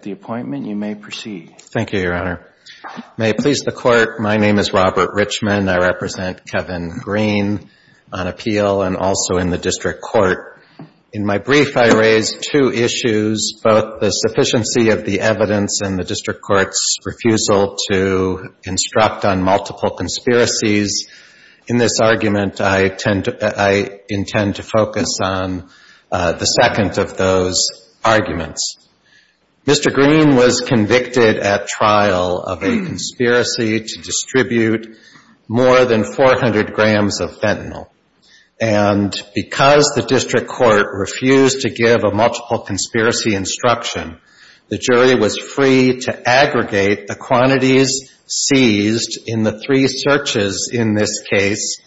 at the appointment. You may proceed. Thank you, Your Honor. May it please the Court, my name is Robert Richman. I represent Kevin Green on appeal and also in the District Court. In my brief, I raise two issues, both the sufficiency of the evidence and the District Court's refusal to instruct on multiple conspiracies. In this argument, I intend to focus on the Green was convicted at trial of a conspiracy to distribute more than 400 grams of fentanyl. And because the District Court refused to give a multiple conspiracy instruction, the jury was free to aggregate the quantities seized in the three searches in this case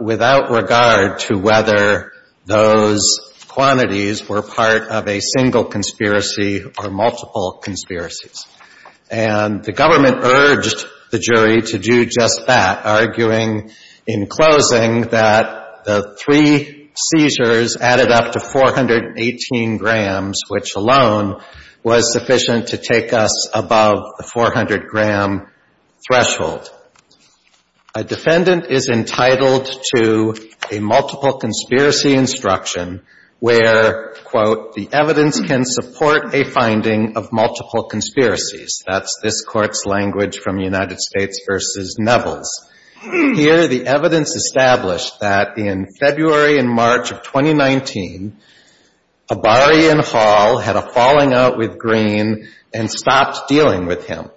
without regard to whether those quantities were part of a single conspiracy or multiple conspiracies. And the government urged the jury to do just that, arguing in closing that the three seizures added up to 418 grams, which alone was sufficient to take us above the 400-gram threshold. A defendant is entitled to a multiple conspiracy instruction where, quote, the evidence can support a finding of multiple conspiracies. That's this Court's language from United States v. Nevels. Here, the evidence established that in February and March of 2019, Abari and Hall had a falling out with Green and stopped dealing with him.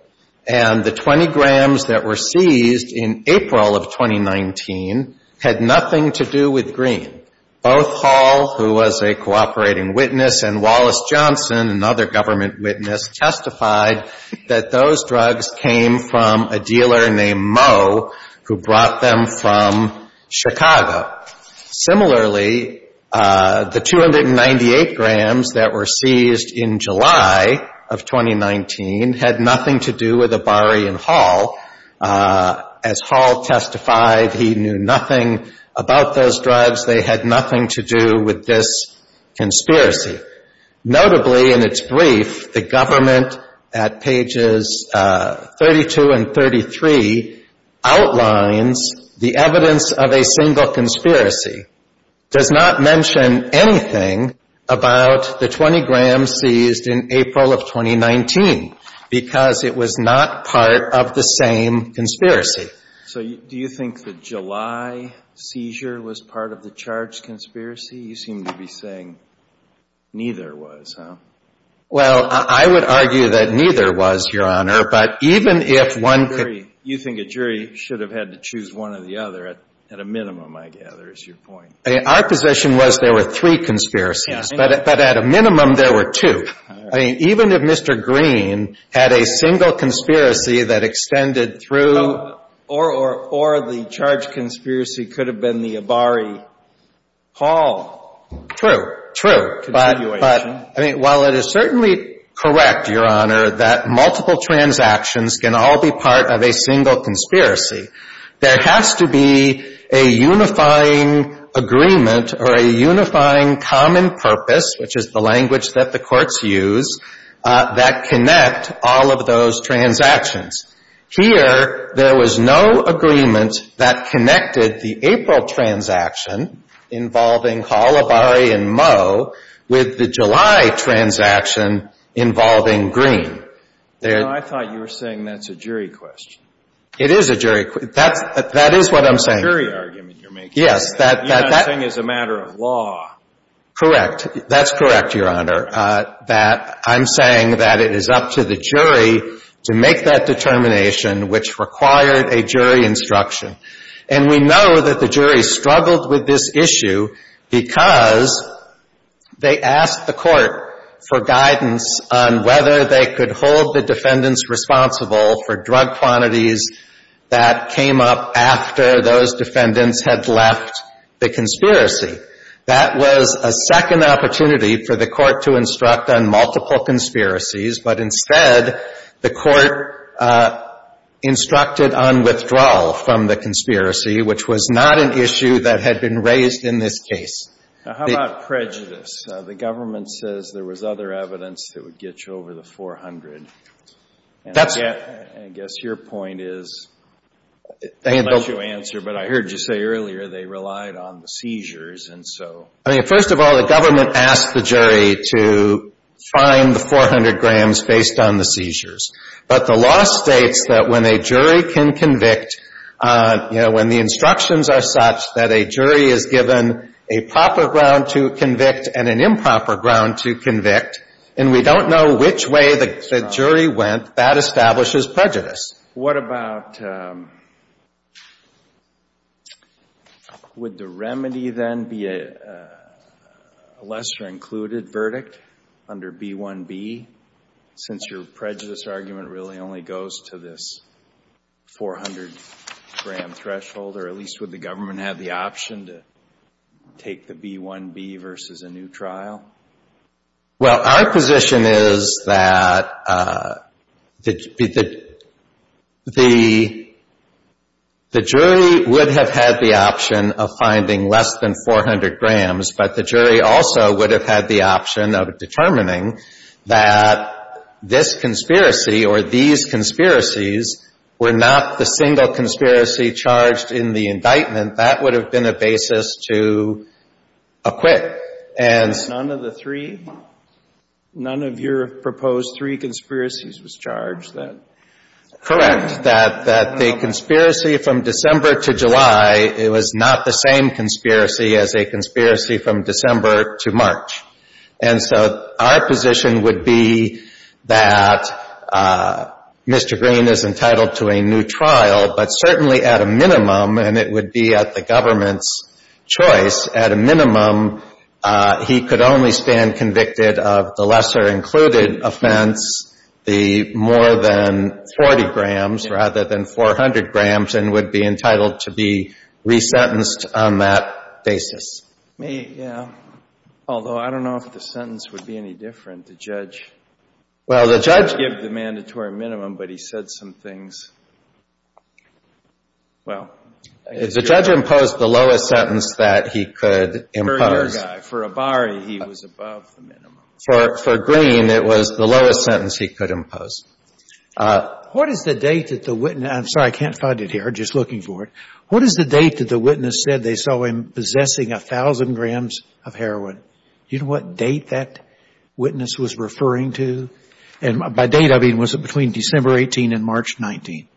And the 20 grams that were seized in April of 2019 had nothing to do with Green. Both Hall, who was a cooperating witness, and Wallace Johnson, another government witness, testified that those drugs came from a dealer named Moe, who brought them from Chicago. Similarly, the 298 grams that were seized in July of 2019 had nothing to do with Abari and Hall. As Hall testified, he knew nothing about those drugs. They had nothing to do with this conspiracy. Notably, in its brief, the government, at pages 32 and 33, outlines the evidence of a single conspiracy, does not mention anything about the 20 grams seized in April of 2019 because it was not part of the same conspiracy. So do you think the July seizure was part of the charge conspiracy? You seem to be saying neither was, huh? Well, I would argue that neither was, Your Honor, but even if one could... You think a jury should have had to choose one or the other at a minimum, I gather, is your point. Our position was there were three conspiracies, but at a minimum, there were two. I mean, even if Mr. Green had a single conspiracy that extended through... Or the charge conspiracy could have been the Abari-Hall... True. True. But while it is certainly correct, Your Honor, that multiple transactions can all be part of a single conspiracy, there has to be a unifying agreement or a unifying common purpose, which is the language that the courts use, that connect all of those transactions. Here, there was no agreement that connected the April transaction involving Hall, Abari, and Moe with the July transaction involving Green. I thought you were saying that's a jury question. It is a jury question. That is what I'm saying. It's a jury argument you're making. Yes, that... Unifying is a matter of law. Correct. That's correct, Your Honor. That I'm saying that it is up to the jury to make that determination, which required a jury instruction. And we know that the jury struggled with this issue because they asked the court for guidance on whether they could hold the defendants responsible for drug quantities that came up after those defendants had left the conspiracy. That was a second opportunity for the court to instruct on multiple conspiracies. But instead, the court instructed on withdrawal from the conspiracy, which was not an issue that had been raised in this case. Now, how about prejudice? The government says there was other evidence that would get you over the 400. And I guess your point is, unless you answer, but I heard you say earlier they relied on the seizures, and so... I mean, first of all, the government asked the jury to find the 400 grams based on the seizures. But the law states that when a jury can convict, you know, when the instructions are such that a jury is given a proper ground to convict and an improper ground to convict, and we don't know which way the jury went, that establishes prejudice. What about... Would the remedy then be a lesser-included verdict under B-1-B, since your prejudice argument really only goes to this 400-gram threshold, or at least would the government have the option to take the B-1-B versus a new trial? Well, our position is that the jury would have had the option of finding less than 400 grams, but the jury also would have had the option of determining that this conspiracy or these conspiracies were not the single conspiracy charged in the indictment. That would have been a basis to acquit. None of the three? None of your proposed three conspiracies was charged? Correct. That the conspiracy from December to July, it was not the same conspiracy as a conspiracy from December to March. And so our position would be that Mr. Green is entitled to a new trial, but certainly at a minimum, and it would be at the government's choice, at a minimum, he could only stand convicted of the lesser-included offense, the more than 40 grams rather than 400 grams, and would be entitled to be resentenced on that basis. Yeah. Although I don't know if the sentence would be any different. The judge... Well, the judge... The judge gave the mandatory minimum, but he said some things. Well... The judge imposed the lowest sentence that he could impose. For your guy, for Abari, he was above the minimum. For Green, it was the lowest sentence he could impose. What is the date that the witness — I'm sorry, I can't find it here. I'm just looking for it. What is the date that the witness said they saw him possessing 1,000 grams of heroin? Do you know what date that witness was referring to? And by date, I mean, was it between December 18 and March 19?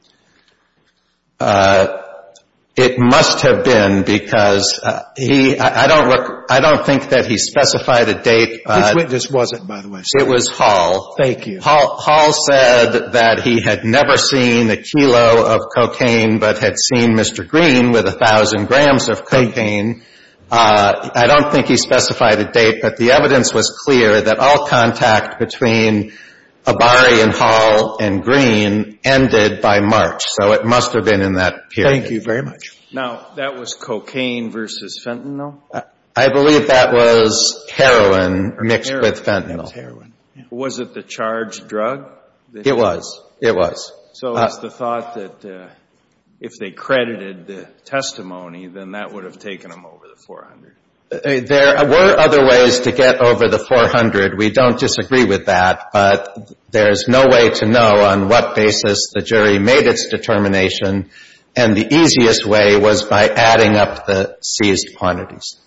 It must have been, because he — I don't look — I don't think that he specified a date. Which witness was it, by the way? It was Hall. Thank you. Hall said that he had never seen a kilo of cocaine, but had seen Mr. Green with 1,000 grams of cocaine. Thank you. I don't think he specified a date, but the evidence was clear that all contact between Abari and Hall and Green ended by March. So it must have been in that period. Thank you very much. Now, that was cocaine versus fentanyl? I believe that was heroin mixed with fentanyl. Was it the charged drug? It was. It was. So it's the thought that if they credited the testimony, then that would have taken them over the 400. There were other ways to get over the 400. We don't disagree with that, but there's no way to know on what basis the jury made its determination, and the easiest way was by adding up the seized quantities.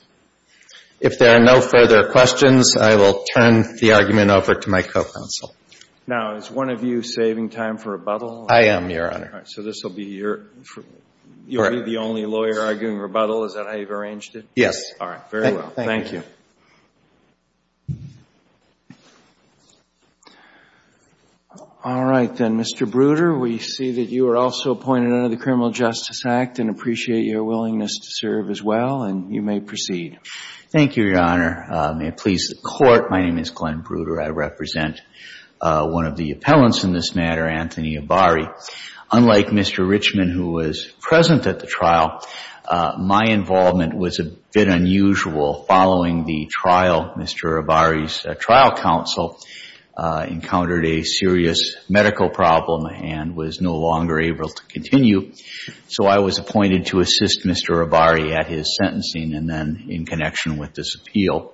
If there are no further questions, I will turn the argument over to my co-counsel. Now, is one of you saving time for rebuttal? I am, Your Honor. So you'll be the only lawyer arguing rebuttal? Is that how you've arranged it? Yes. All right. Very well. Thank you. All right, then. Mr. Bruder, we see that you are also appointed under the Criminal Justice Act and appreciate your willingness to serve as well, and you may proceed. Thank you, Your Honor. May it please the Court, my name is Glenn Bruder. I represent one of the appellants in this matter, Anthony Ibarri. Unlike Mr. Richman, who was present at the trial, my involvement was a bit unusual. Following the trial, Mr. Ibarri's trial counsel encountered a serious medical problem and was no longer able to continue, so I was appointed to assist Mr. Ibarri at his sentencing and then in connection with this appeal.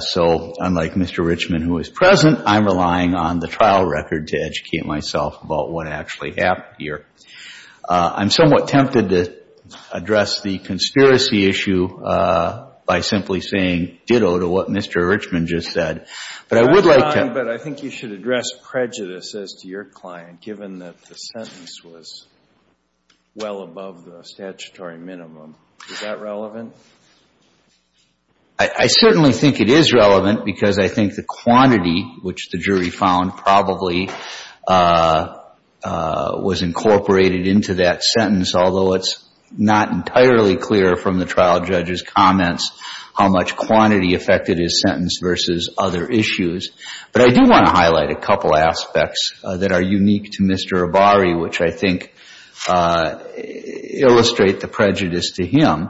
So unlike Mr. Richman, who was present, I'm relying on the trial record to educate myself about what actually happened here. I'm somewhat tempted to address the conspiracy issue by simply saying, ditto to what Mr. Richman just said, but I would like to – Your Honor, but I think you should address prejudice as to your client, given that the sentence was well above the statutory minimum. Is that relevant? I certainly think it is relevant because I think the quantity, which the jury found probably was incorporated into that sentence, although it's not entirely clear from the trial judge's comments how much quantity affected his sentence versus other issues. But I do want to highlight a couple aspects that are unique to Mr. Ibarri, which I think illustrate the prejudice to him.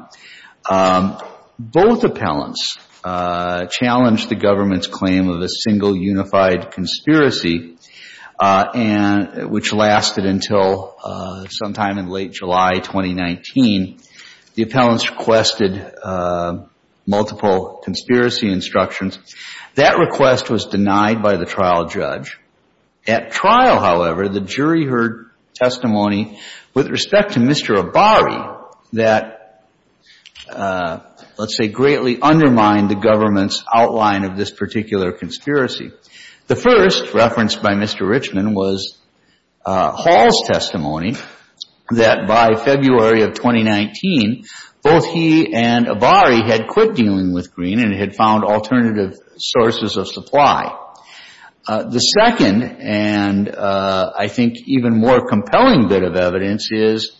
Both appellants challenged the government's claim of a single unified conspiracy, which lasted until sometime in late July 2019. The appellants requested multiple conspiracy instructions. That request was denied by the trial judge. At trial, however, the jury heard testimony with respect to Mr. Ibarri that, let's say, greatly undermined the government's outline of this particular conspiracy. The first, referenced by Mr. Richman, was Hall's testimony that by February of 2019, both he and Ibarri had quit dealing with Green and had found alternative sources of supply. The second, and I think even more compelling bit of evidence, is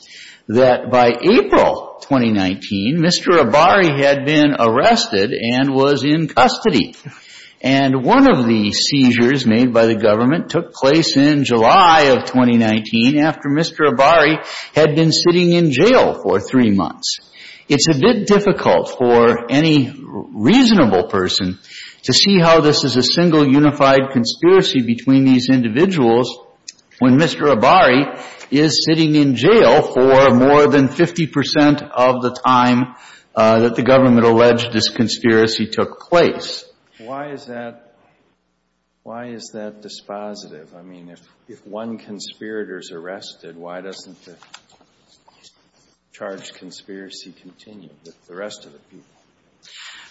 that by April 2019, Mr. Ibarri had been arrested and was in custody. And one of the seizures made by the government took place in July of 2019, after Mr. Ibarri had been sitting in jail for three months. It's a bit difficult for any reasonable person to see how this is a single unified conspiracy between these individuals when Mr. Ibarri is sitting in jail for more than 50 percent of the time that the government alleged this conspiracy took place. Why is that dispositive? I mean, if one conspirator is arrested, why doesn't the charged conspiracy continue with the rest of the people?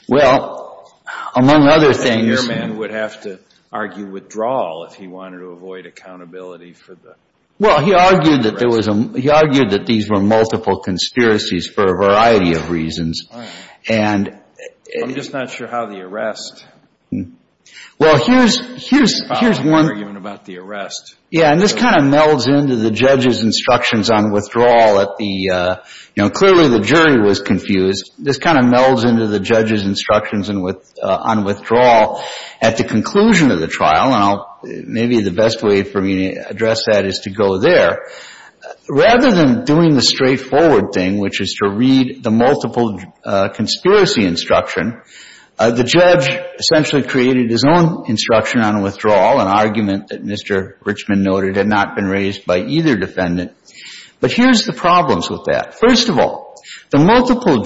Well, among other things... Your man would have to argue withdrawal if he wanted to avoid accountability for the arrest. Well, he argued that these were multiple conspiracies for a variety of reasons. I'm just not sure how the arrest... Well, here's one... ...arguing about the arrest. Yeah, and this kind of melds into the judge's instructions on withdrawal. Clearly the jury was confused. This kind of melds into the judge's instructions on withdrawal. At the conclusion of the trial, and maybe the best way for me to address that is to go there, rather than doing the straightforward thing, which is to read the multiple conspiracy instruction, the judge essentially created his own instruction on withdrawal, an argument that Mr. Richmond noted had not been raised by either defendant. But here's the problems with that. First of all, the multiple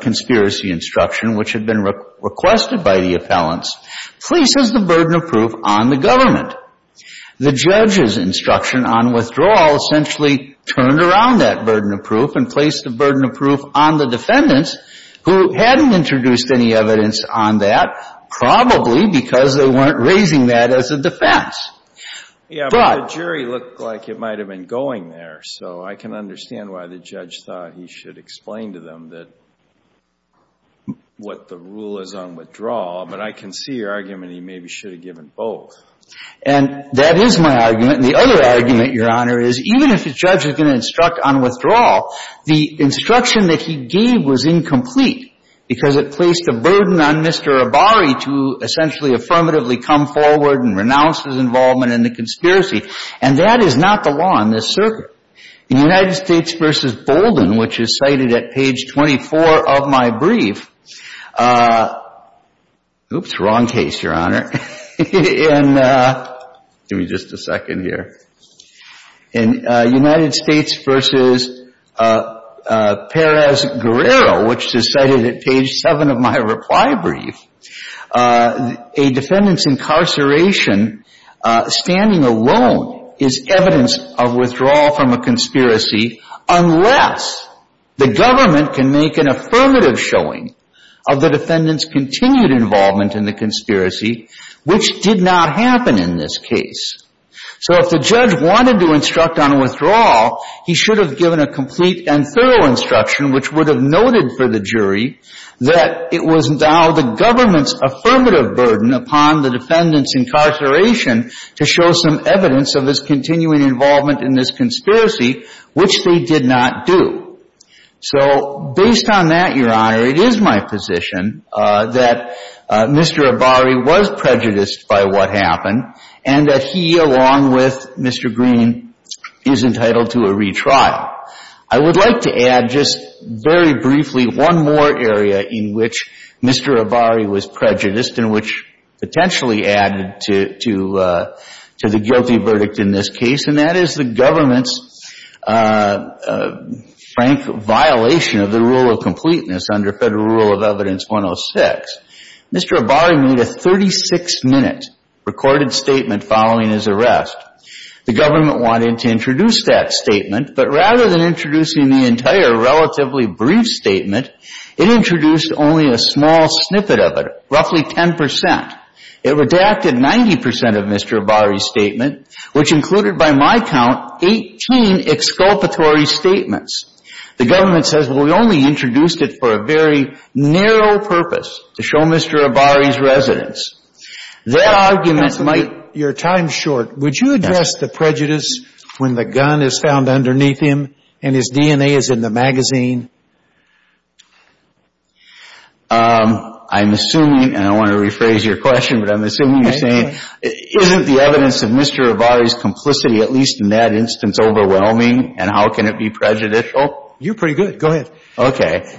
conspiracy instruction, which had been requested by the appellants, places the burden of proof on the government. The judge's instruction on withdrawal essentially turned around that burden of proof and placed the burden of proof on the defendants, who hadn't introduced any evidence on that, probably because they weren't raising that as a defense. Yeah, but the jury looked like it might have been going there, so I can understand why the judge thought he should explain to them what the rule is on withdrawal, but I can see your argument he maybe should have given both. And that is my argument, and the other argument, Your Honor, is even if the judge is going to instruct on withdrawal, the instruction that he gave was incomplete, because it placed a burden on Mr. Abari to essentially affirmatively come forward and renounce his involvement in the conspiracy, and that is not the law in this circuit. In United States v. Bolden, which is cited at page 24 of my brief, oops, wrong case, Your Honor, and give me just a second here. In United States v. Perez-Guerrero, which is cited at page 7 of my reply brief, a defendant's incarceration, standing alone, is evidence of withdrawal from a conspiracy unless the government can make an affirmative showing of the defendant's continued involvement in the conspiracy, which did not happen in this case. So if the judge wanted to instruct on withdrawal, he should have given a complete and thorough instruction, which would have noted for the jury that it was now the government's affirmative burden upon the defendant's incarceration to show some evidence of his continuing involvement in this conspiracy, which they did not do. So based on that, Your Honor, it is my position that Mr. Abari was prejudiced by what happened and that he, along with Mr. Green, is entitled to a retrial. I would like to add just very briefly one more area in which Mr. Abari was prejudiced and which potentially added to the guilty verdict in this case, and that is the government's frank violation of the rule of completeness under Federal Rule of Evidence 106. Mr. Abari made a 36-minute recorded statement following his arrest. The government wanted to introduce that statement, but rather than introducing the entire relatively brief statement, it introduced only a small snippet of it, roughly 10%. Which included, by my count, 18 exculpatory statements. The government says, well, we only introduced it for a very narrow purpose, to show Mr. Abari's residence. That argument might, your time's short. Would you address the prejudice when the gun is found underneath him and his DNA is in the magazine? I'm assuming, and I want to rephrase your question, but I'm assuming you're saying isn't the evidence of Mr. Abari's complicity, at least in that instance, overwhelming? And how can it be prejudicial? You're pretty good. Go ahead. Okay.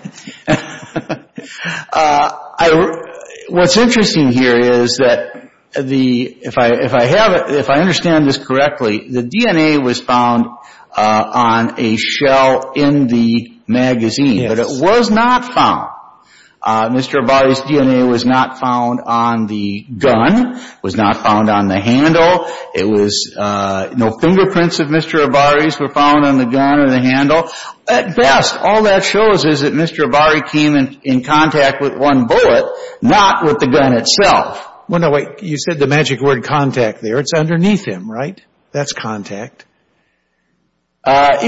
What's interesting here is that if I understand this correctly, the DNA was found on a shell in the magazine. Yes. But it was not found. Mr. Abari's DNA was not found on the gun. It was not found on the handle. It was no fingerprints of Mr. Abari's were found on the gun or the handle. At best, all that shows is that Mr. Abari came in contact with one bullet, not with the gun itself. Well, no, wait. You said the magic word contact there. It's underneath him, right? That's contact. My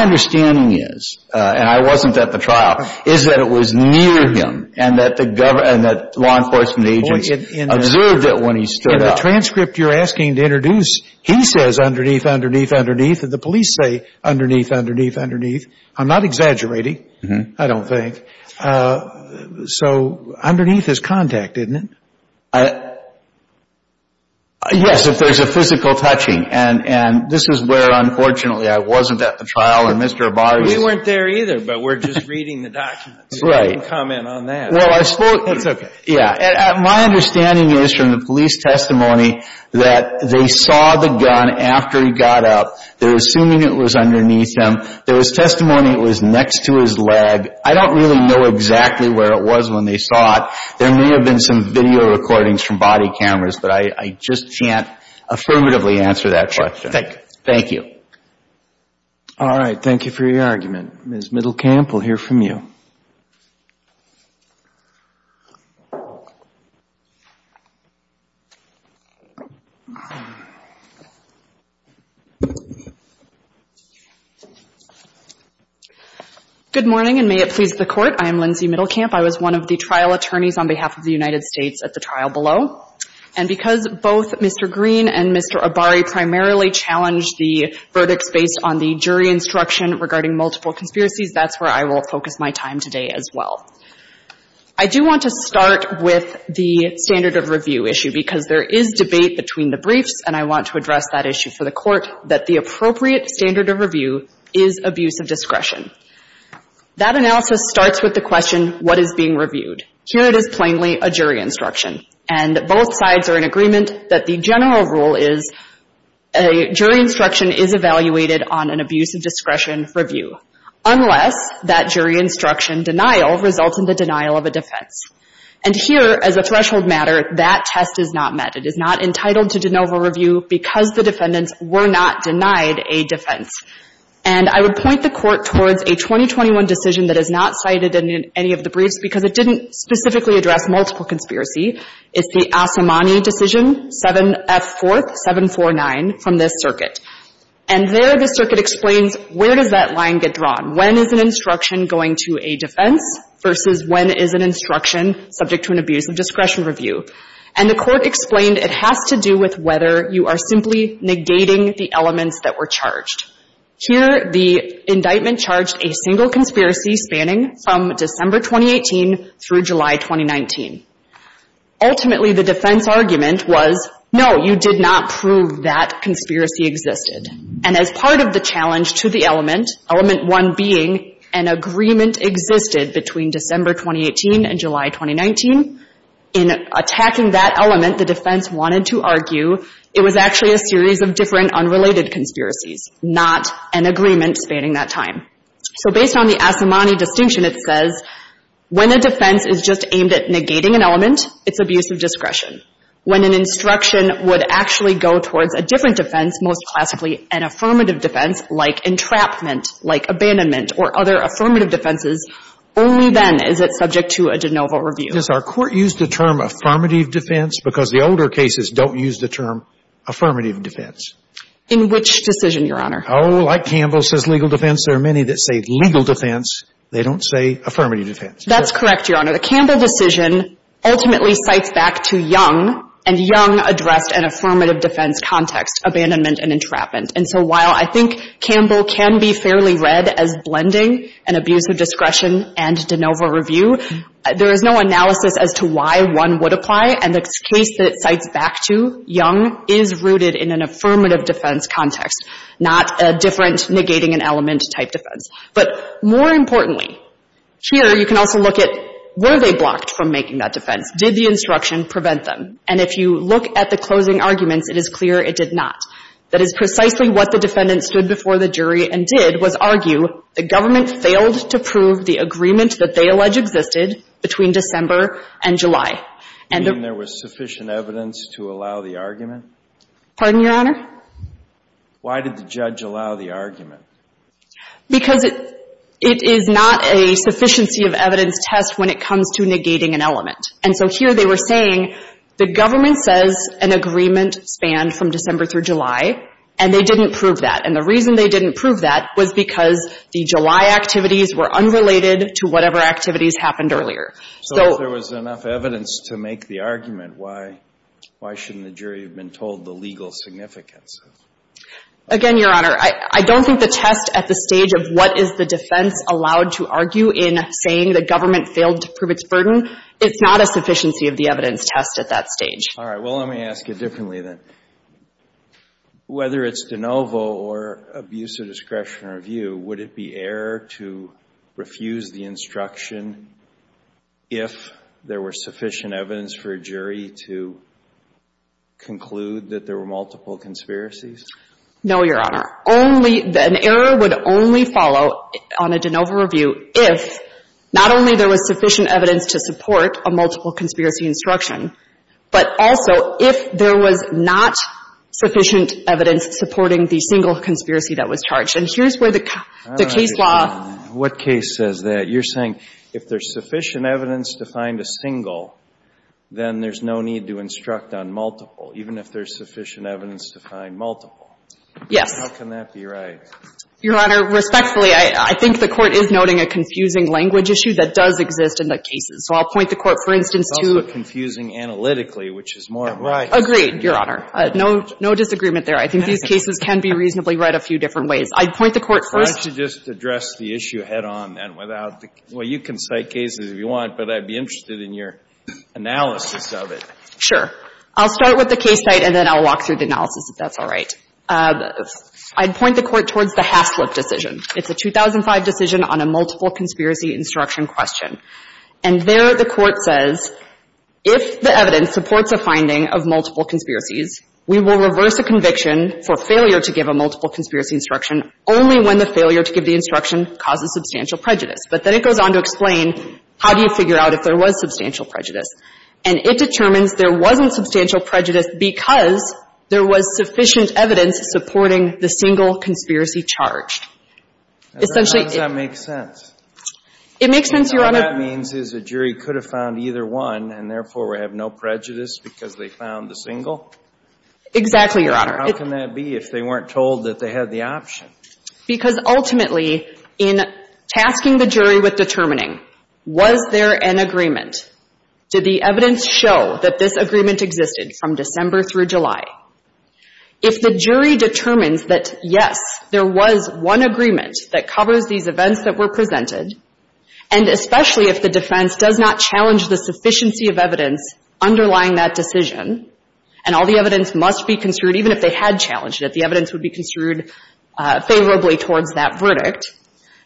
understanding is, and I wasn't at the trial, is that it was near him and that law enforcement agents observed it when he stood up. In the transcript you're asking to introduce, he says underneath, underneath, underneath, and the police say underneath, underneath, underneath. I'm not exaggerating, I don't think. So underneath is contact, isn't it? Yes, if there's a physical touching. And this is where, unfortunately, I wasn't at the trial and Mr. Abari was. We weren't there either, but we're just reading the documents. Right. You can comment on that. Well, I spoke. That's okay. Yeah. My understanding is from the police testimony that they saw the gun after he got up. They're assuming it was underneath him. There was testimony it was next to his leg. I don't really know exactly where it was when they saw it. There may have been some video recordings from body cameras, but I just can't affirmatively answer that question. Thank you. Thank you. All right. Thank you for your argument. Ms. Middlecamp, we'll hear from you. Good morning, and may it please the Court. I am Lindsay Middlecamp. I was one of the trial attorneys on behalf of the United States at the trial below. And because both Mr. Green and Mr. Abari primarily challenged the verdicts based on the jury instruction regarding multiple conspiracies, that's where I will focus my time today as well. I do want to start with the standard of review issue, because there is debate between the briefs, and I want to address that issue for the Court, that the appropriate standard of review is abuse of discretion. That analysis starts with the question, what is being reviewed? Here it is plainly a jury instruction. And both sides are in agreement that the general rule is a jury instruction is evaluated on an abuse of discretion review, unless that jury instruction denial results in the denial of a defense. And here, as a threshold matter, that test is not met. It is not entitled to de novo review because the defendants were not denied a defense. And I would point the Court towards a 2021 decision that is not cited in any of the briefs because it didn't specifically address multiple conspiracy. It's the Asimani decision, 7F4-749 from this circuit. And there the circuit explains where does that line get drawn. When is an instruction going to a defense versus when is an instruction subject to an abuse of discretion review? And the Court explained it has to do with whether you are simply negating the elements that were charged. Here, the indictment charged a single conspiracy spanning from December 2018 through July 2019. Ultimately, the defense argument was, no, you did not prove that conspiracy existed. And as part of the challenge to the element, element one being an agreement existed between December 2018 and July 2019, in attacking that element, the defense wanted to argue it was actually a series of different unrelated conspiracies, not an agreement spanning that time. So based on the Asimani distinction, it says when a defense is just aimed at negating an element, it's abuse of discretion. When an instruction would actually go towards a different defense, most classically an affirmative defense like entrapment, like abandonment, or other affirmative defenses, only then is it subject to a de novo review. Does our Court use the term affirmative defense because the older cases don't use the term affirmative defense? In which decision, Your Honor? Oh, like Campbell says legal defense, there are many that say legal defense. They don't say affirmative defense. That's correct, Your Honor. The Campbell decision ultimately cites back to Young, and Young addressed an affirmative defense context, abandonment and entrapment. And so while I think Campbell can be fairly read as blending an abuse of discretion and de novo review, there is no analysis as to why one would apply. And the case that it cites back to, Young, is rooted in an affirmative defense context, not a different negating an element type defense. But more importantly, here you can also look at were they blocked from making that defense. Did the instruction prevent them? And if you look at the closing arguments, it is clear it did not. That is precisely what the defendant stood before the jury and did was argue the government failed to prove the agreement that they allege existed between December and July. And there was sufficient evidence to allow the argument? Pardon, Your Honor? Why did the judge allow the argument? Because it is not a sufficiency of evidence test when it comes to negating an element. And so here they were saying the government says an agreement spanned from December through July, and they didn't prove that. And the reason they didn't prove that was because the July activities were unrelated to whatever activities happened earlier. So if there was enough evidence to make the argument, why shouldn't the jury have been told the legal significance? Again, Your Honor, I don't think the test at the stage of what is the defense allowed to argue in saying the government failed to prove its burden, it's not a sufficiency of the evidence test at that stage. All right. Well, let me ask it differently then. Whether it's de novo or abuse of discretion review, would it be error to refuse the instruction if there were sufficient evidence for a jury to conclude that there were multiple conspiracies? No, Your Honor. Only an error would only follow on a de novo review if not only there was sufficient evidence to support a multiple conspiracy instruction, but also if there was not sufficient evidence supporting the single conspiracy that was charged. And here's where the case law — What case says that? You're saying if there's sufficient evidence to find a single, then there's no need to instruct on multiple, even if there's sufficient evidence to find multiple. Yes. How can that be right? Your Honor, respectfully, I think the Court is noting a confusing language issue that does exist in the cases. So I'll point the Court, for instance, to — It's also confusing analytically, which is more — Right. Agreed, Your Honor. No — no disagreement there. I think these cases can be reasonably right a few different ways. I'd point the Court first — Why don't you just address the issue head-on and without the — well, you can cite cases if you want, but I'd be interested in your analysis of it. Sure. I'll start with the case site and then I'll walk through the analysis, if that's all right. I'd point the Court towards the Haslip decision. It's a 2005 decision on a multiple conspiracy instruction question. And there the Court says if the evidence supports a finding of multiple conspiracies, we will reverse a conviction for failure to give a multiple conspiracy instruction only when the failure to give the instruction causes substantial prejudice. But then it goes on to explain how do you figure out if there was substantial prejudice. And it determines there wasn't substantial prejudice because there was sufficient evidence supporting the single conspiracy charge. How does that make sense? It makes sense, Your Honor — What that means is the jury could have found either one and therefore we have no prejudice because they found the single? Exactly, Your Honor. How can that be if they weren't told that they had the option? Because ultimately in tasking the jury with determining was there an agreement, did the evidence show that this agreement existed from December through July? If the jury determines that, yes, there was one agreement that covers these events that were presented, and especially if the defense does not challenge the sufficiency of evidence underlying that decision, and all the evidence must be construed, even if they had challenged it, the evidence would be construed favorably towards that verdict,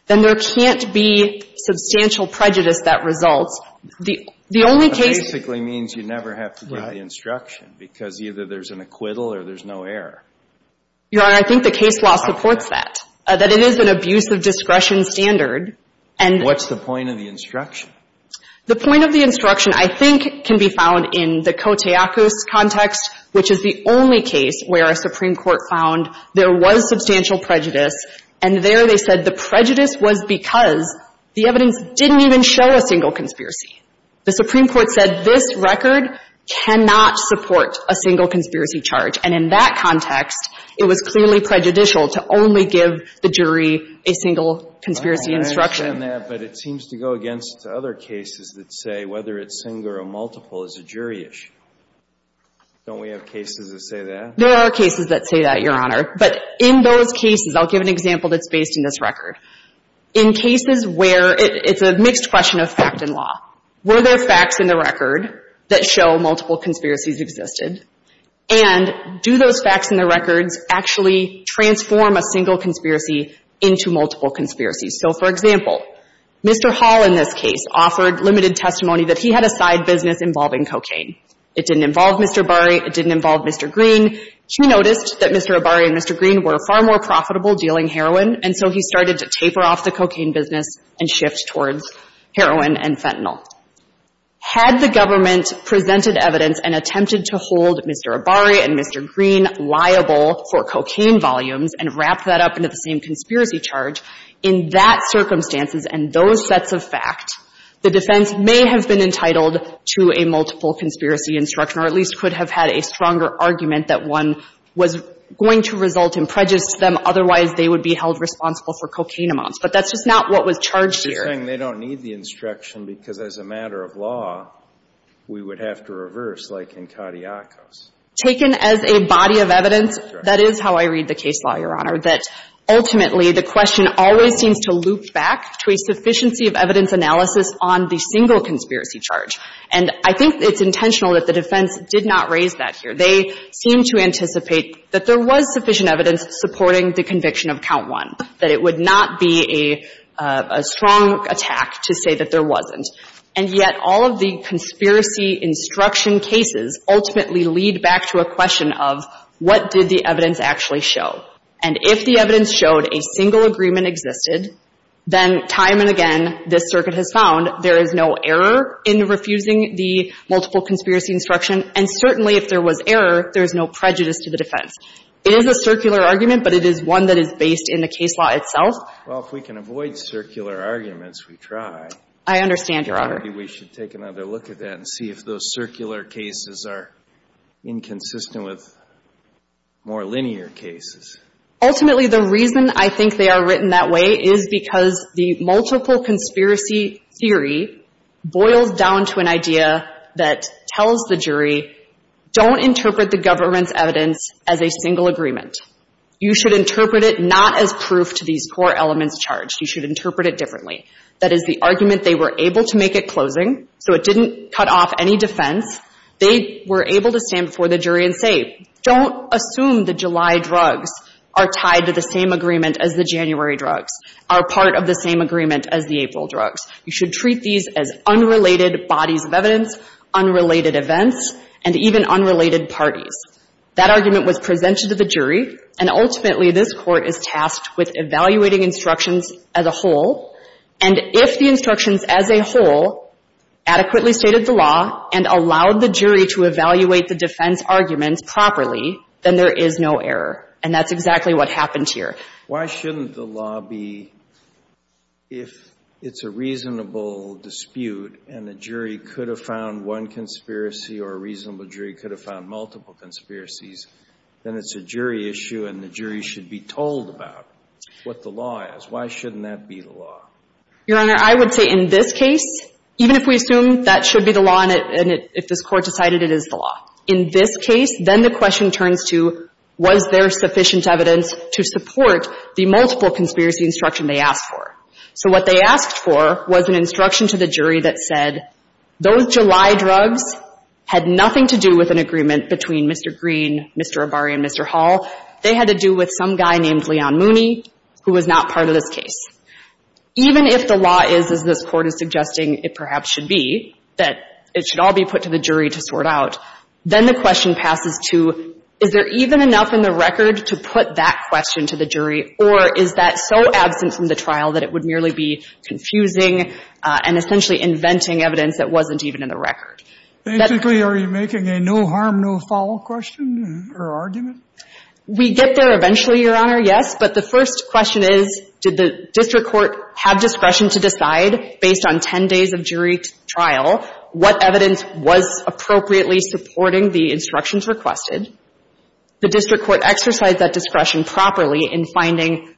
then there can't be substantial prejudice that results. The only case — That basically means you never have to give the instruction because either there's an acquittal or there's no error. Your Honor, I think the case law supports that, that it is an abuse of discretion standard. What's the point of the instruction? The point of the instruction I think can be found in the Koteakos context, which is the only case where a Supreme Court found there was substantial prejudice, and there they said the prejudice was because the evidence didn't even show a single conspiracy. The Supreme Court said this record cannot support a single conspiracy charge, and in that context, it was clearly prejudicial to only give the jury a single conspiracy instruction. I understand that, but it seems to go against other cases that say whether it's single or multiple is a jury issue. Don't we have cases that say that? There are cases that say that, Your Honor. But in those cases, I'll give an example that's based in this record. In cases where it's a mixed question of fact and law. Were there facts in the record that show multiple conspiracies existed? And do those facts in the records actually transform a single conspiracy into multiple conspiracies? So, for example, Mr. Hall in this case offered limited testimony that he had a side business involving cocaine. It didn't involve Mr. Abari. It didn't involve Mr. Green. He noticed that Mr. Abari and Mr. Green were far more profitable dealing heroin, and so he started to taper off the cocaine business and shift towards heroin and fentanyl. Had the government presented evidence and attempted to hold Mr. Abari and Mr. Green liable for cocaine volumes and wrapped that up into the same conspiracy charge, in that circumstances and those sets of fact, the defense may have been entitled to a multiple conspiracy instruction or at least could have had a stronger argument that one was going to result in prejudice to them. Otherwise, they would be held responsible for cocaine amounts. But that's just not what was charged here. They're saying they don't need the instruction because as a matter of law, we would have to reverse like in Katiakos. Taken as a body of evidence, that is how I read the case law, Your Honor, that ultimately the question always seems to loop back to a sufficiency of evidence analysis on the single conspiracy charge. And I think it's intentional that the defense did not raise that here. They seem to anticipate that there was sufficient evidence supporting the conviction of count one, that it would not be a strong attack to say that there wasn't. And yet all of the conspiracy instruction cases ultimately lead back to a question of what did the evidence actually show. And if the evidence showed a single agreement existed, then time and again this circuit has found there is no error in refusing the multiple conspiracy instruction. And certainly if there was error, there is no prejudice to the defense. It is a circular argument, but it is one that is based in the case law itself. Well, if we can avoid circular arguments, we try. I understand, Your Honor. Maybe we should take another look at that and see if those circular cases are inconsistent with more linear cases. Ultimately, the reason I think they are written that way is because the multiple conspiracy case is a case where the defense is saying, okay, don't interpret the government's evidence as a single agreement. You should interpret it not as proof to these core elements charged. You should interpret it differently. That is the argument they were able to make at closing, so it didn't cut off any defense. They were able to stand before the jury and say, don't assume the July drugs are tied to the same agreement as the January drugs, are part of the same agreement as the April drugs. You should treat these as unrelated bodies of evidence, unrelated events, and even unrelated parties. That argument was presented to the jury, and ultimately this court is tasked with evaluating instructions as a whole, and if the instructions as a whole adequately stated the law and allowed the jury to evaluate the defense arguments properly, then there is no error. And that's exactly what happened here. Why shouldn't the law be, if it's a reasonable dispute and the jury could have found one conspiracy or a reasonable jury could have found multiple conspiracies, then it's a jury issue and the jury should be told about what the law is. Why shouldn't that be the law? Your Honor, I would say in this case, even if we assume that should be the law and if this court decided it is the law, in this case, then the question turns to, was there sufficient evidence to support the multiple conspiracy instruction they asked for? So what they asked for was an instruction to the jury that said, those July drugs had nothing to do with an agreement between Mr. Green, Mr. Arbari, and Mr. Hall. They had to do with some guy named Leon Mooney who was not part of this case. Even if the law is, as this court is suggesting it perhaps should be, that it should all be put to the jury to sort out, then the question passes to, is there even enough in the record to put that question to the jury or is that so absent from the trial that it would merely be confusing and essentially inventing evidence that wasn't even in the record? Are you making a no harm, no foul question or argument? We get there eventually, Your Honor, yes. But the first question is, did the district court have discretion to decide, based on 10 days of jury trial, what evidence was appropriately supporting the instructions requested? The district court exercised that discretion properly in finding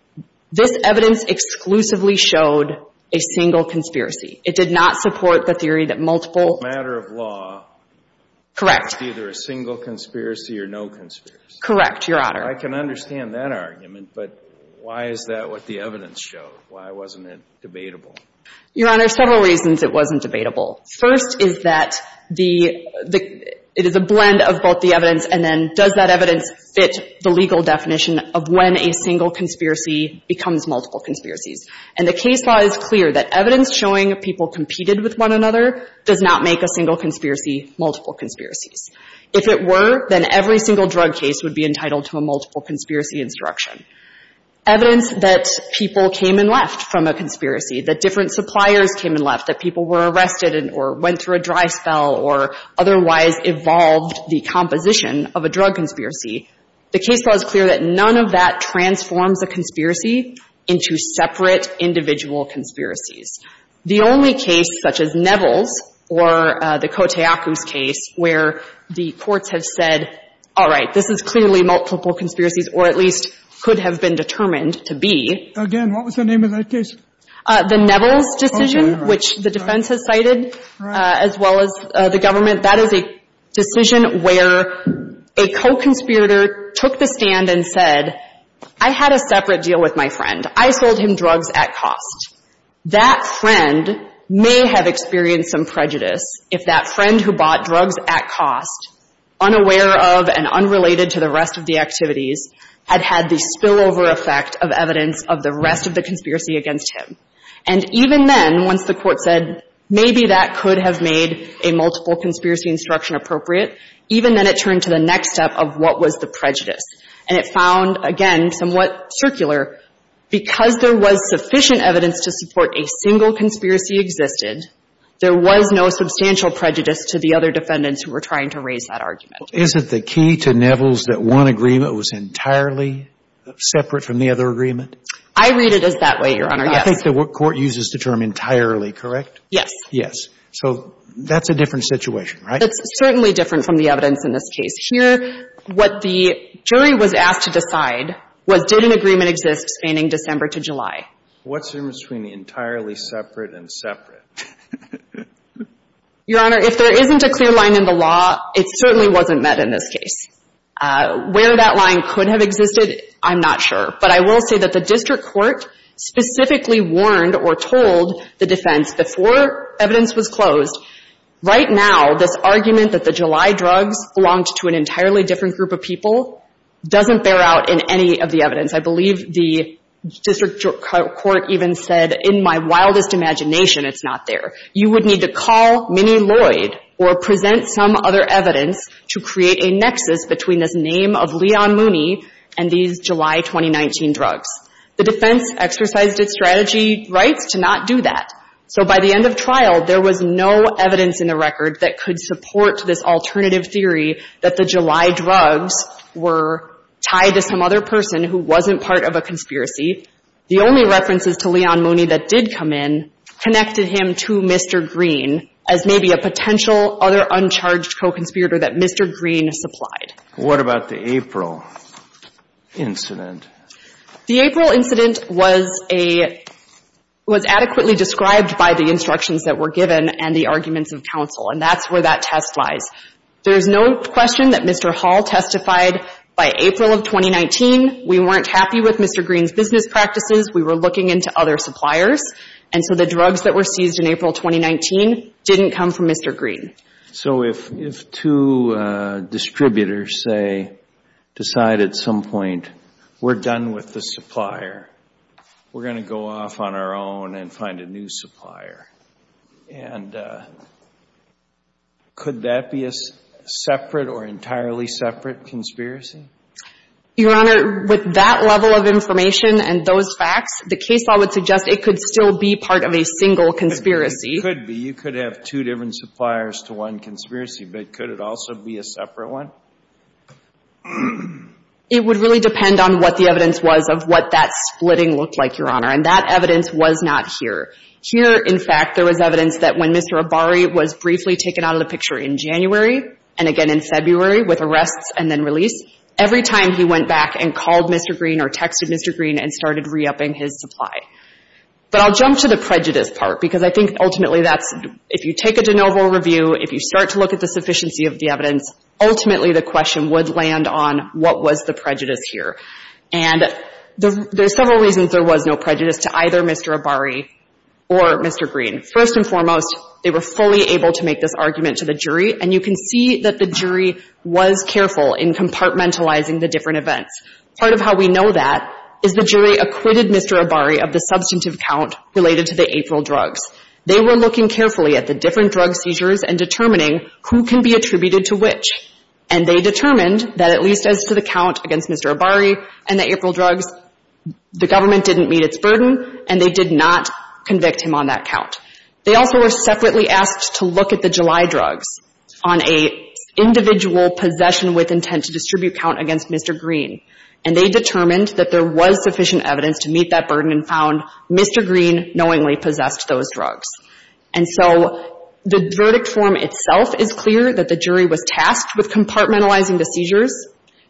this evidence exclusively showed a single conspiracy. It did not support the theory that multiple ---- Matter of law ---- Correct. ---- was either a single conspiracy or no conspiracy. Correct, Your Honor. I can understand that argument, but why is that what the evidence showed? Why wasn't it debatable? Your Honor, several reasons it wasn't debatable. First is that the ---- it is a blend of both the evidence and then does that evidence fit the legal definition of when a single conspiracy becomes multiple conspiracies. And the case law is clear that evidence showing people competed with one another does not make a single conspiracy multiple conspiracies. If it were, then every single drug case would be entitled to a multiple conspiracy instruction. Evidence that people came and left from a conspiracy, that different suppliers came and left, that people were arrested or went through a dry spell or otherwise evolved the composition of a drug conspiracy. The case law is clear that none of that transforms a conspiracy into separate individual conspiracies. The only case such as Neville's or the Koteyaku's case where the courts have said, all right, this is clearly multiple conspiracies or at least could have been determined to be ---- Again, what was the name of that case? The Neville's decision, which the defense has cited as well as the government. That is a decision where a co-conspirator took the stand and said, I had a separate deal with my friend. I sold him drugs at cost. That friend may have experienced some prejudice if that friend who bought drugs at cost, unaware of and unrelated to the rest of the activities, had had the spillover effect of evidence of the rest of the conspiracy against him. And even then, once the court said, maybe that could have made a multiple conspiracy instruction appropriate, even then it turned to the next step of what was the prejudice. And it found, again, somewhat circular, because there was sufficient evidence to support a single conspiracy existed, there was no substantial prejudice to the other defendants who were trying to raise that argument. Is it the key to Neville's that one agreement was entirely separate from the other agreement? I read it as that way, Your Honor, yes. I think the court uses the term entirely, correct? Yes. Yes. So that's a different situation, right? It's certainly different from the evidence in this case. Here, what the jury was asked to decide was did an agreement exist spanning December to July. What's the difference between entirely separate and separate? Your Honor, if there isn't a clear line in the law, it certainly wasn't met in this case. Where that line could have existed, I'm not sure. But I will say that the district court specifically warned or told the defense before evidence was closed, right now, this argument that the July drugs belonged to an entirely different group of people doesn't bear out in any of the evidence. I believe the district court even said, in my wildest imagination, it's not there. You would need to call Minnie Lloyd or present some other evidence to create a nexus between this name of Leon Mooney and these July 2019 drugs. The defense exercised its strategy rights to not do that. So by the end of trial, there was no evidence in the record that could support this alternative theory that the July drugs were tied to some other person who wasn't part of a conspiracy. The only references to Leon Mooney that did come in connected him to Mr. Green as maybe a potential other uncharged co-conspirator that Mr. Green supplied. What about the April incident? The April incident was adequately described by the instructions that were given and the arguments of counsel. And that's where that test lies. There is no question that Mr. Hall testified by April of 2019. We weren't happy with Mr. Green's business practices. We were looking into other suppliers. And so the drugs that were seized in April 2019 didn't come from Mr. Green. So if two distributors say, decide at some point, we're done with the supplier, we're going to go off on our own and find a new supplier, and could that be a separate or entirely separate conspiracy? Your Honor, with that level of information and those facts, the case law would suggest it could still be part of a single conspiracy. It could be. You could have two different suppliers to one conspiracy. But could it also be a separate one? It would really depend on what the evidence was of what that splitting looked like, Your Honor. And that evidence was not here. Here, in fact, there was evidence that when Mr. Abari was briefly taken out of the every time he went back and called Mr. Green or texted Mr. Green and started re-upping his supply. But I'll jump to the prejudice part because I think ultimately that's, if you take a de novo review, if you start to look at the sufficiency of the evidence, ultimately the question would land on what was the prejudice here. And there's several reasons there was no prejudice to either Mr. Abari or Mr. Green. First and foremost, they were fully able to make this argument to the jury. And you can see that the jury was careful in compartmentalizing the different events. Part of how we know that is the jury acquitted Mr. Abari of the substantive count related to the April drugs. They were looking carefully at the different drug seizures and determining who can be attributed to which. And they determined that at least as to the count against Mr. Abari and the April drugs, the government didn't meet its burden, and they did not convict him on that count. They also were separately asked to look at the July drugs on an individual possession with intent to distribute count against Mr. Green. And they determined that there was sufficient evidence to meet that burden and found Mr. Green knowingly possessed those drugs. And so the verdict form itself is clear that the jury was tasked with compartmentalizing the seizures.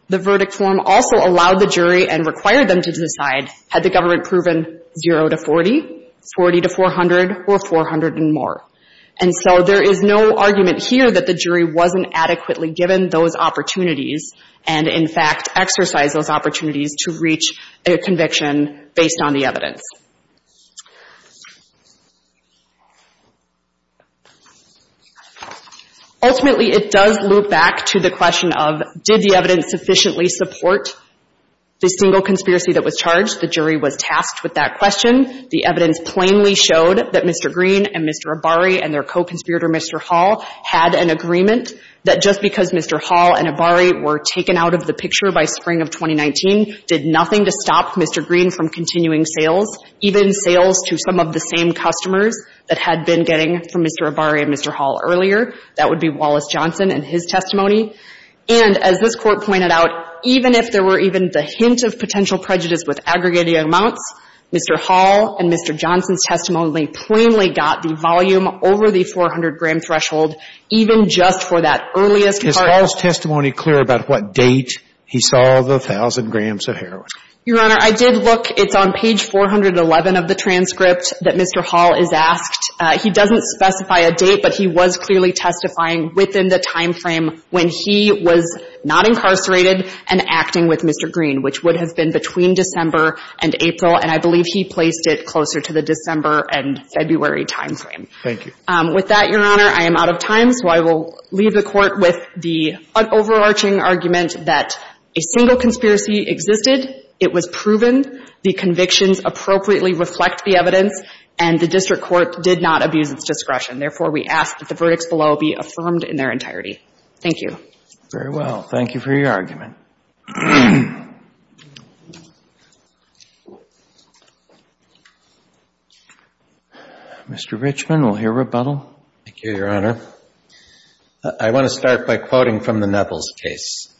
The verdict form also allowed the jury and required them to decide, had the government proven 0 to 40, 40 to 400, or 400 and more. And so there is no argument here that the jury wasn't adequately given those opportunities and, in fact, exercised those opportunities to reach a conviction based on the evidence. Ultimately, it does loop back to the question of, did the evidence sufficiently support the single conspiracy that was charged? The jury was tasked with that question. The evidence plainly showed that Mr. Green and Mr. Abari and their co-conspirator, Mr. Hall, had an agreement that just because Mr. Hall and Abari were taken out of the picture by spring of 2019 did nothing to stop Mr. Green from continuing sales, even sales to some of the same customers that had been getting from Mr. Abari and Mr. Hall earlier. That would be Wallace Johnson and his testimony. And as this Court pointed out, even if there were even the hint of potential prejudice with aggregated amounts, Mr. Hall and Mr. Johnson's testimony plainly got the volume over the 400-gram threshold, even just for that earliest part. Is Hall's testimony clear about what date he saw the 1,000 grams of heroin? Your Honor, I did look. It's on page 411 of the transcript that Mr. Hall is asked. He doesn't specify a date, but he was clearly testifying within the timeframe when he was not incarcerated and acting with Mr. Green, which would have been between December and April. And I believe he placed it closer to the December and February timeframe. Thank you. With that, Your Honor, I am out of time. So I will leave the Court with the overarching argument that a single conspiracy existed, it was proven, the convictions appropriately reflect the evidence, and the district court did not abuse its discretion. Therefore, we ask that the verdicts below be affirmed in their entirety. Thank you. Very well. Thank you for your argument. Mr. Richman, we'll hear rebuttal. Thank you, Your Honor. I want to start by quoting from the Nevels case,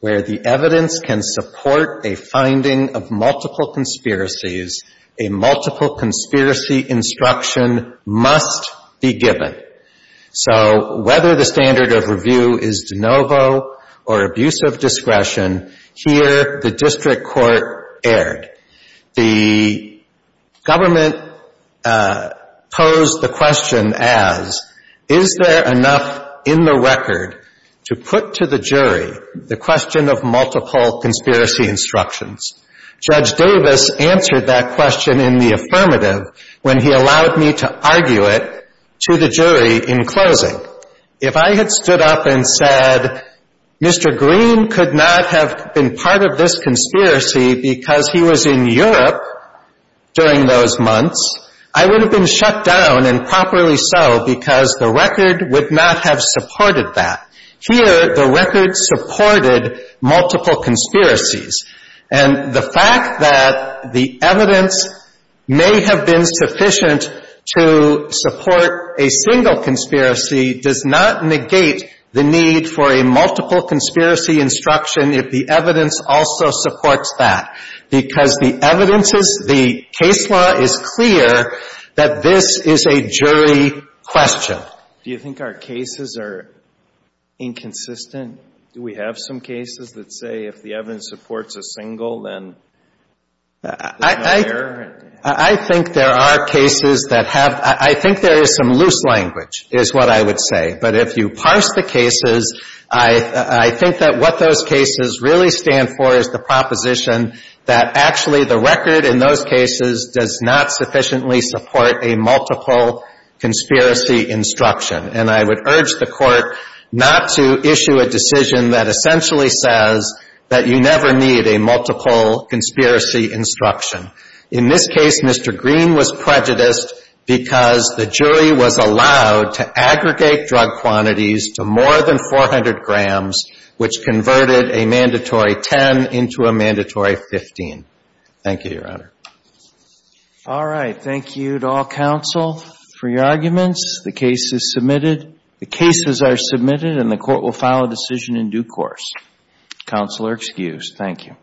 where the evidence can support a finding of multiple conspiracies, a multiple conspiracy instruction must be given. So whether the standard of review is de novo or abuse of discretion, here the district court erred. The government posed the question as, is there enough in the record to put to the jury the question of multiple conspiracy instructions? Judge Davis answered that question in the affirmative when he allowed me to argue it to the jury in closing. If I had stood up and said, Mr. Green could not have been part of this conspiracy because he was in Europe during those months, I would have been shut down, and properly so, because the record would not have supported that. Here, the record supported multiple conspiracies. And the fact that the evidence may have been sufficient to support a single conspiracy does not negate the need for a multiple conspiracy instruction if the evidence also supports that. Because the evidence is, the case law is clear that this is a jury question. Do you think our cases are inconsistent? Do we have some cases that say if the evidence supports a single, then there's no error? I think there are cases that have, I think there is some loose language, is what I would say. But if you parse the cases, I think that what those cases really stand for is the proposition that actually the record in those cases does not sufficiently support a multiple conspiracy instruction. And I would urge the Court not to issue a decision that essentially says that you never need a multiple conspiracy instruction. In this case, Mr. Green was prejudiced because the jury was allowed to aggregate drug quantities to more than 400 grams, which converted a mandatory 10 into a mandatory 15. Thank you, Your Honor. All right. Thank you to all counsel for your arguments. The case is submitted. The cases are submitted, and the Court will file a decision in due course. Counsel are excused. Thank you.